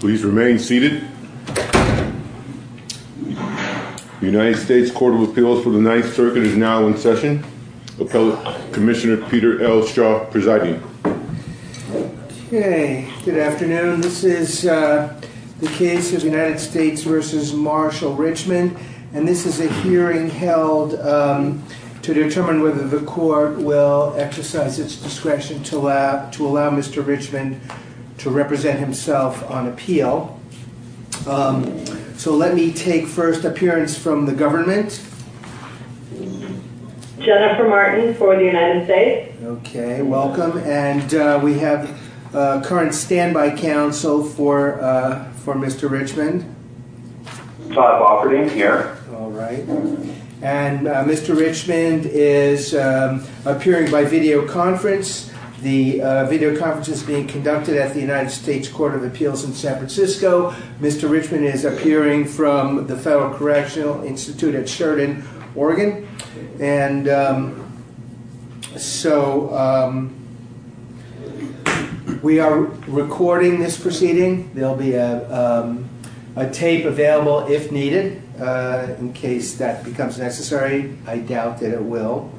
Please remain seated. The United States Court of Appeals for the Ninth Circuit is now in session. Appellate Commissioner Peter L. Straw presiding. Okay, good afternoon. This is the case of United States v. Marshall Richmond and this is a hearing held to determine whether the court will exercise its discretion to allow Mr. Richmond to represent himself on appeal. So let me take first appearance from the government. Jennifer Martin for the United States. Okay, welcome and we have current standby counsel for Mr. Richmond. I'm operating here. All right and Mr. Richmond is appearing by videoconference. The videoconference is being conducted at the United States Court of Appeals in San Francisco. Mr. Richmond is appearing from the Federal Correctional Institute at Sheridan, Oregon. And so we are recording this proceeding. There'll be a tape available if needed in case that becomes necessary. I doubt that it will.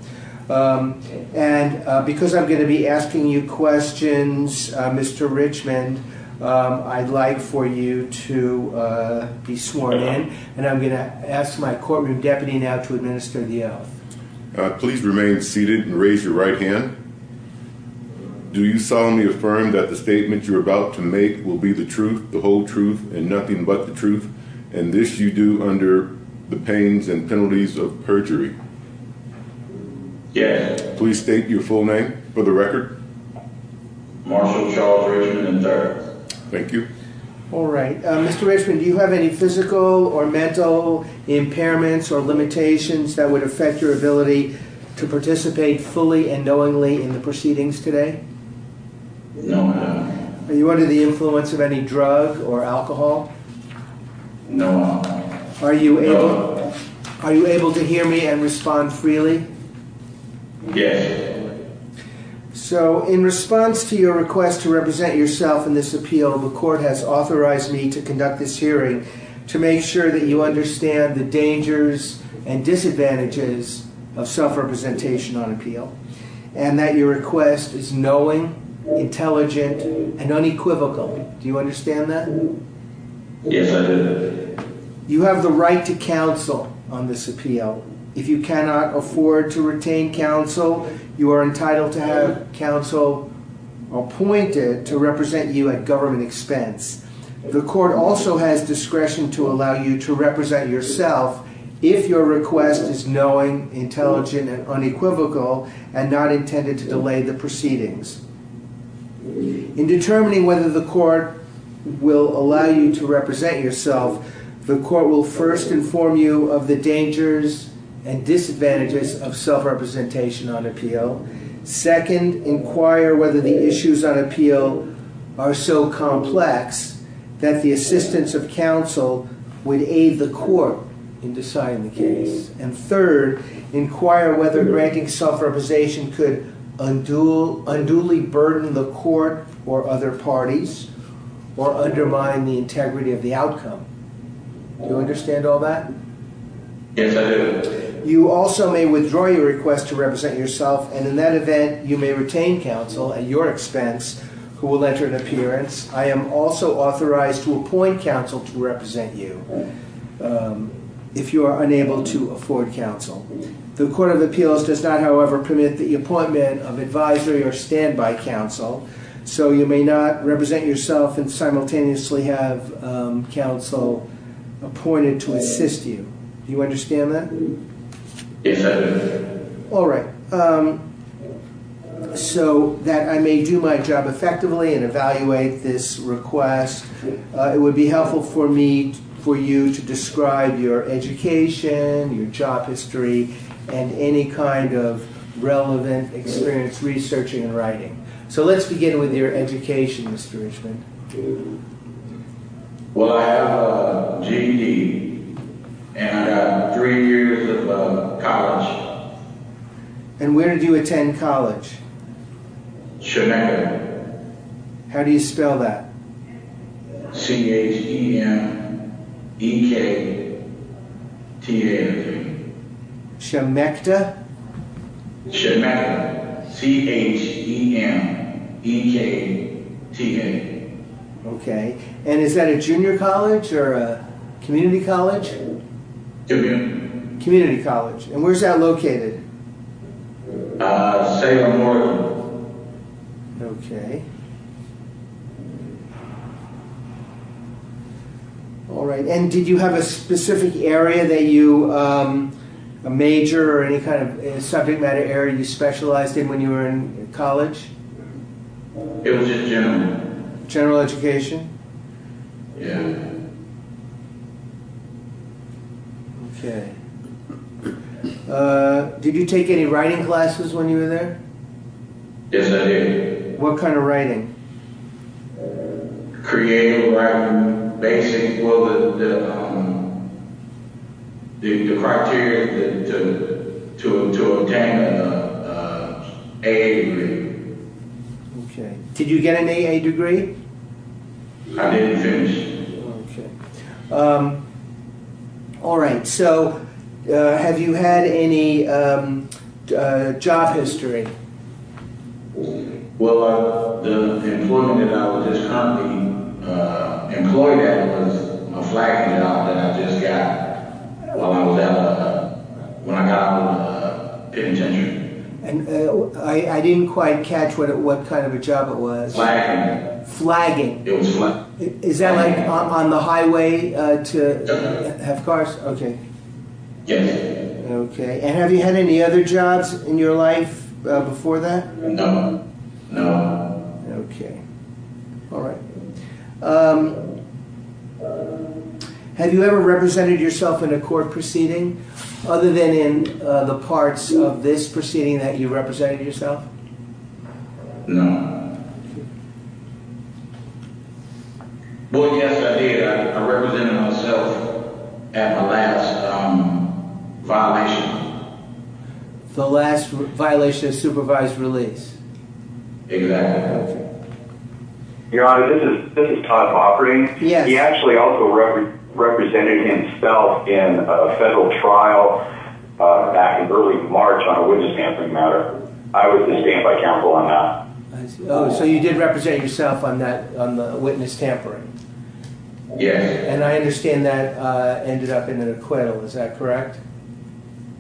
And because I'm going to be asking you questions, Mr. Richmond, I'd like for you to be sworn in and I'm going to ask my courtroom deputy now to administer the oath. Please remain seated and raise your right hand. Do you solemnly affirm that the statement you're about to make will be the truth, the whole truth, and nothing but the truth? And this you do under the pains and penalties of perjury? Yes. Please state your full name for the record. Marshall Charles Richmond III. Thank you. All right. Mr. Richmond, do you have any physical or mental impairments or limitations that would affect your ability to participate fully and knowingly in the proceedings today? No, I don't. Are you under the influence of any drug or alcohol? No, I'm not. Are you able to hear me and respond freely? Yes. So in response to your request to represent yourself in this appeal, the court has authorized me to conduct this hearing to make sure that you understand the dangers and disadvantages of self-representation on appeal and that your request is knowing, intelligent, and unequivocal. Do you understand that? Yes, I do. You have the right to counsel on this appeal. If you cannot afford to retain counsel, you are entitled to have counsel appointed to represent you at government expense. The court also has discretion to allow you to represent yourself if your request is knowing, intelligent, and unequivocal. In determining whether the court will allow you to represent yourself, the court will first inform you of the dangers and disadvantages of self-representation on appeal. Second, inquire whether the issues on appeal are so complex that the assistance of counsel will unduly burden the court or other parties or undermine the integrity of the outcome. Do you understand all that? Yes, I do. You also may withdraw your request to represent yourself, and in that event, you may retain counsel at your expense who will enter an appearance. I am also authorized to appoint counsel to represent you if you are unable to afford counsel. The Court of Appeals does not, however, permit the use of an advisory or standby counsel, so you may not represent yourself and simultaneously have counsel appointed to assist you. Do you understand that? Yes, I do. All right. So that I may do my job effectively and evaluate this request, it would be helpful for me, for you, to describe your education, your job in researching and writing. So let's begin with your education, Mr. Richmond. Well, I have a GED, and I have three years of college. And where do you go to college? H-E-M-E-K-T-A. Okay. And is that a junior college or a community college? Junior. Community college. And where's that located? Salem, Oregon. Okay. All right. And did you have a college? It was just general. General education? Yeah. Okay. Did you take any writing classes when you were there? Yes, I did. What kind of writing? Creative writing, basic. Well, the criteria to obtain an A.A. degree. Okay. Did you get an A.A. degree? I didn't finish. Okay. All right. So have you had any job history? Well, the employment that I was just currently employed at was a flagging job that I just got when I got out of the penitentiary. I didn't quite catch what kind of a job it was. Flagging. Flagging. It was flagging. Is that like on the No. No. Okay. All right. Have you ever represented yourself in a court proceeding other than in the parts of this proceeding that you represented yourself? No. Well, yes, I did. I represented myself at the last violation. The last violation of supervised release. Exactly. Your Honor, this is Todd Hofferty. Yes. He actually also represented himself in a federal trial back in early March on a witness tampering matter. I was the standby counsel on that. Oh, so you did represent yourself on that witness tampering? Yes. And I understand that ended up in an acquittal. Is that correct?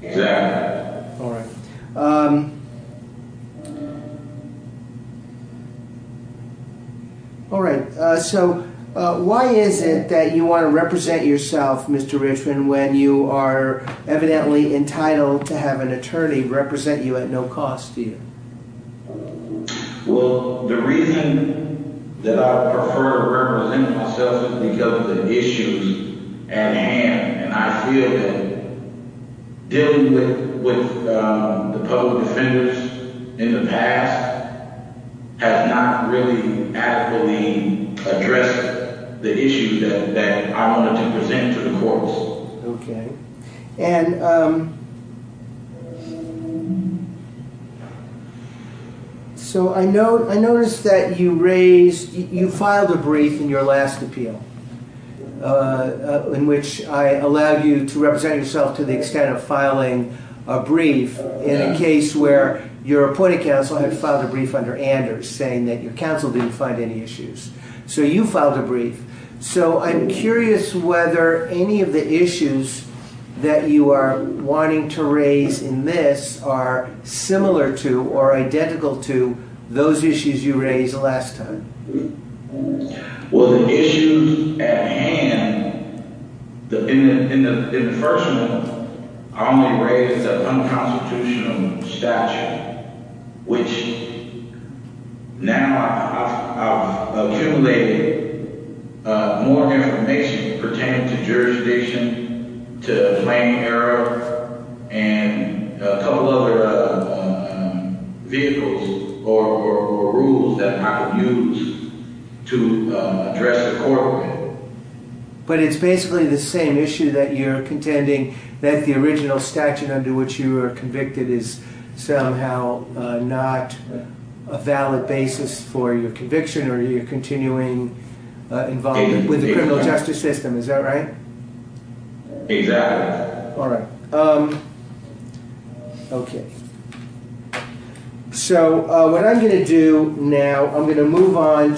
Yes. All right. All right. So why is it that you want to represent yourself, Mr. Richman, when you are evidently entitled to have an attorney represent you at no cost to you? Well, the reason that I prefer representing myself is because of the issues at hand. And I feel that dealing with the public defenders in the past has not really adequately addressed the issue that I wanted to present to the courts. Okay. And so I noticed that you raised, you filed a brief in your last appeal in which I allowed you to represent yourself to the extent of filing a brief in a case where your appointed counsel had filed a brief under Anders saying that your counsel didn't find any issues. So you filed a brief. So I'm curious whether any of the issues that you are wanting to raise in this are similar to or identical to those issues you raised last time. Well, the issues at hand, in the first one, I only raised the unconstitutional statute, which now I've accumulated more information pertaining to jurisdiction, to plain error, and a couple other vehicles or rules that I could use. To address the court with. But it's basically the same issue that you're contending that the original statute under which you were convicted is somehow not a valid basis for your conviction or your continuing involvement with the criminal justice system. Is that right? Exactly. All right. Okay. Because even if I were inclined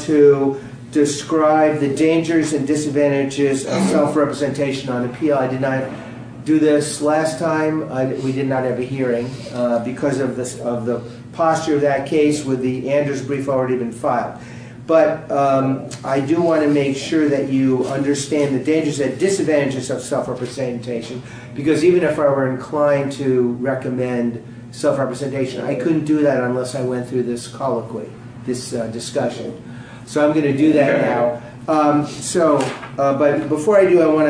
to recommend self-representation, I couldn't do that unless I went through this colloquy, this discussion. So I'm going to do that now. So, but before I do, I want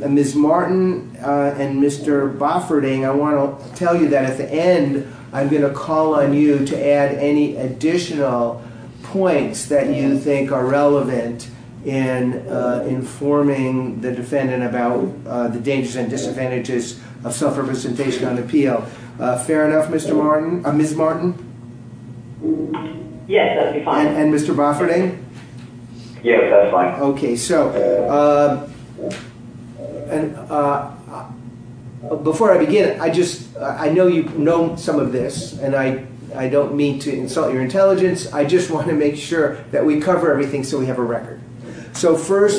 to, Ms. Martin and Mr. Bofferting, I want to tell you that at the end, I'm going to call on you to add any additional points that you think are relevant in informing the defendant about the dangers and disadvantages of self-representation on appeal. Fair enough, Mr. Martin, Ms. Martin? Yes, that would be fine. And Mr. Bofferting? Yes, that's fine. Okay. So, before I begin, I just, I know you know some of this and I don't mean to insult your intelligence. I just want to make sure that we cover everything so we have a record. No problem. Yes, I do. Okay. Yes, I do. Yes, I do. Okay. Yes, I do. Yes, I do. Yes, I do. Yes, I do. Yes, I do. Yes, I do. Yes, I do. Yes, I do. Yes, I do. Yes, I do. Yes, I do. Yes, I do. Yes, I do. Yes, I do. Yes, I do. Yes, I do. Yes, I do. No, thank you very much. Yes, I do. Nothing to add. Yes, I do. Oh, transcripts from a trial? Yes. Yes, I do. Yes, I do. No, I'm not taking a position. Thank you. Yes, I do. All right. This is Jennifer Mark from the government, and I'll go ahead and sign off now. I don't believe so. Thank you very much, Jennifer. Thank you. I don't anticipate I will. Thank you. Ms. Martin, thank you for participating today, and you are now excused. Thank you very much. Goodbye. Goodbye.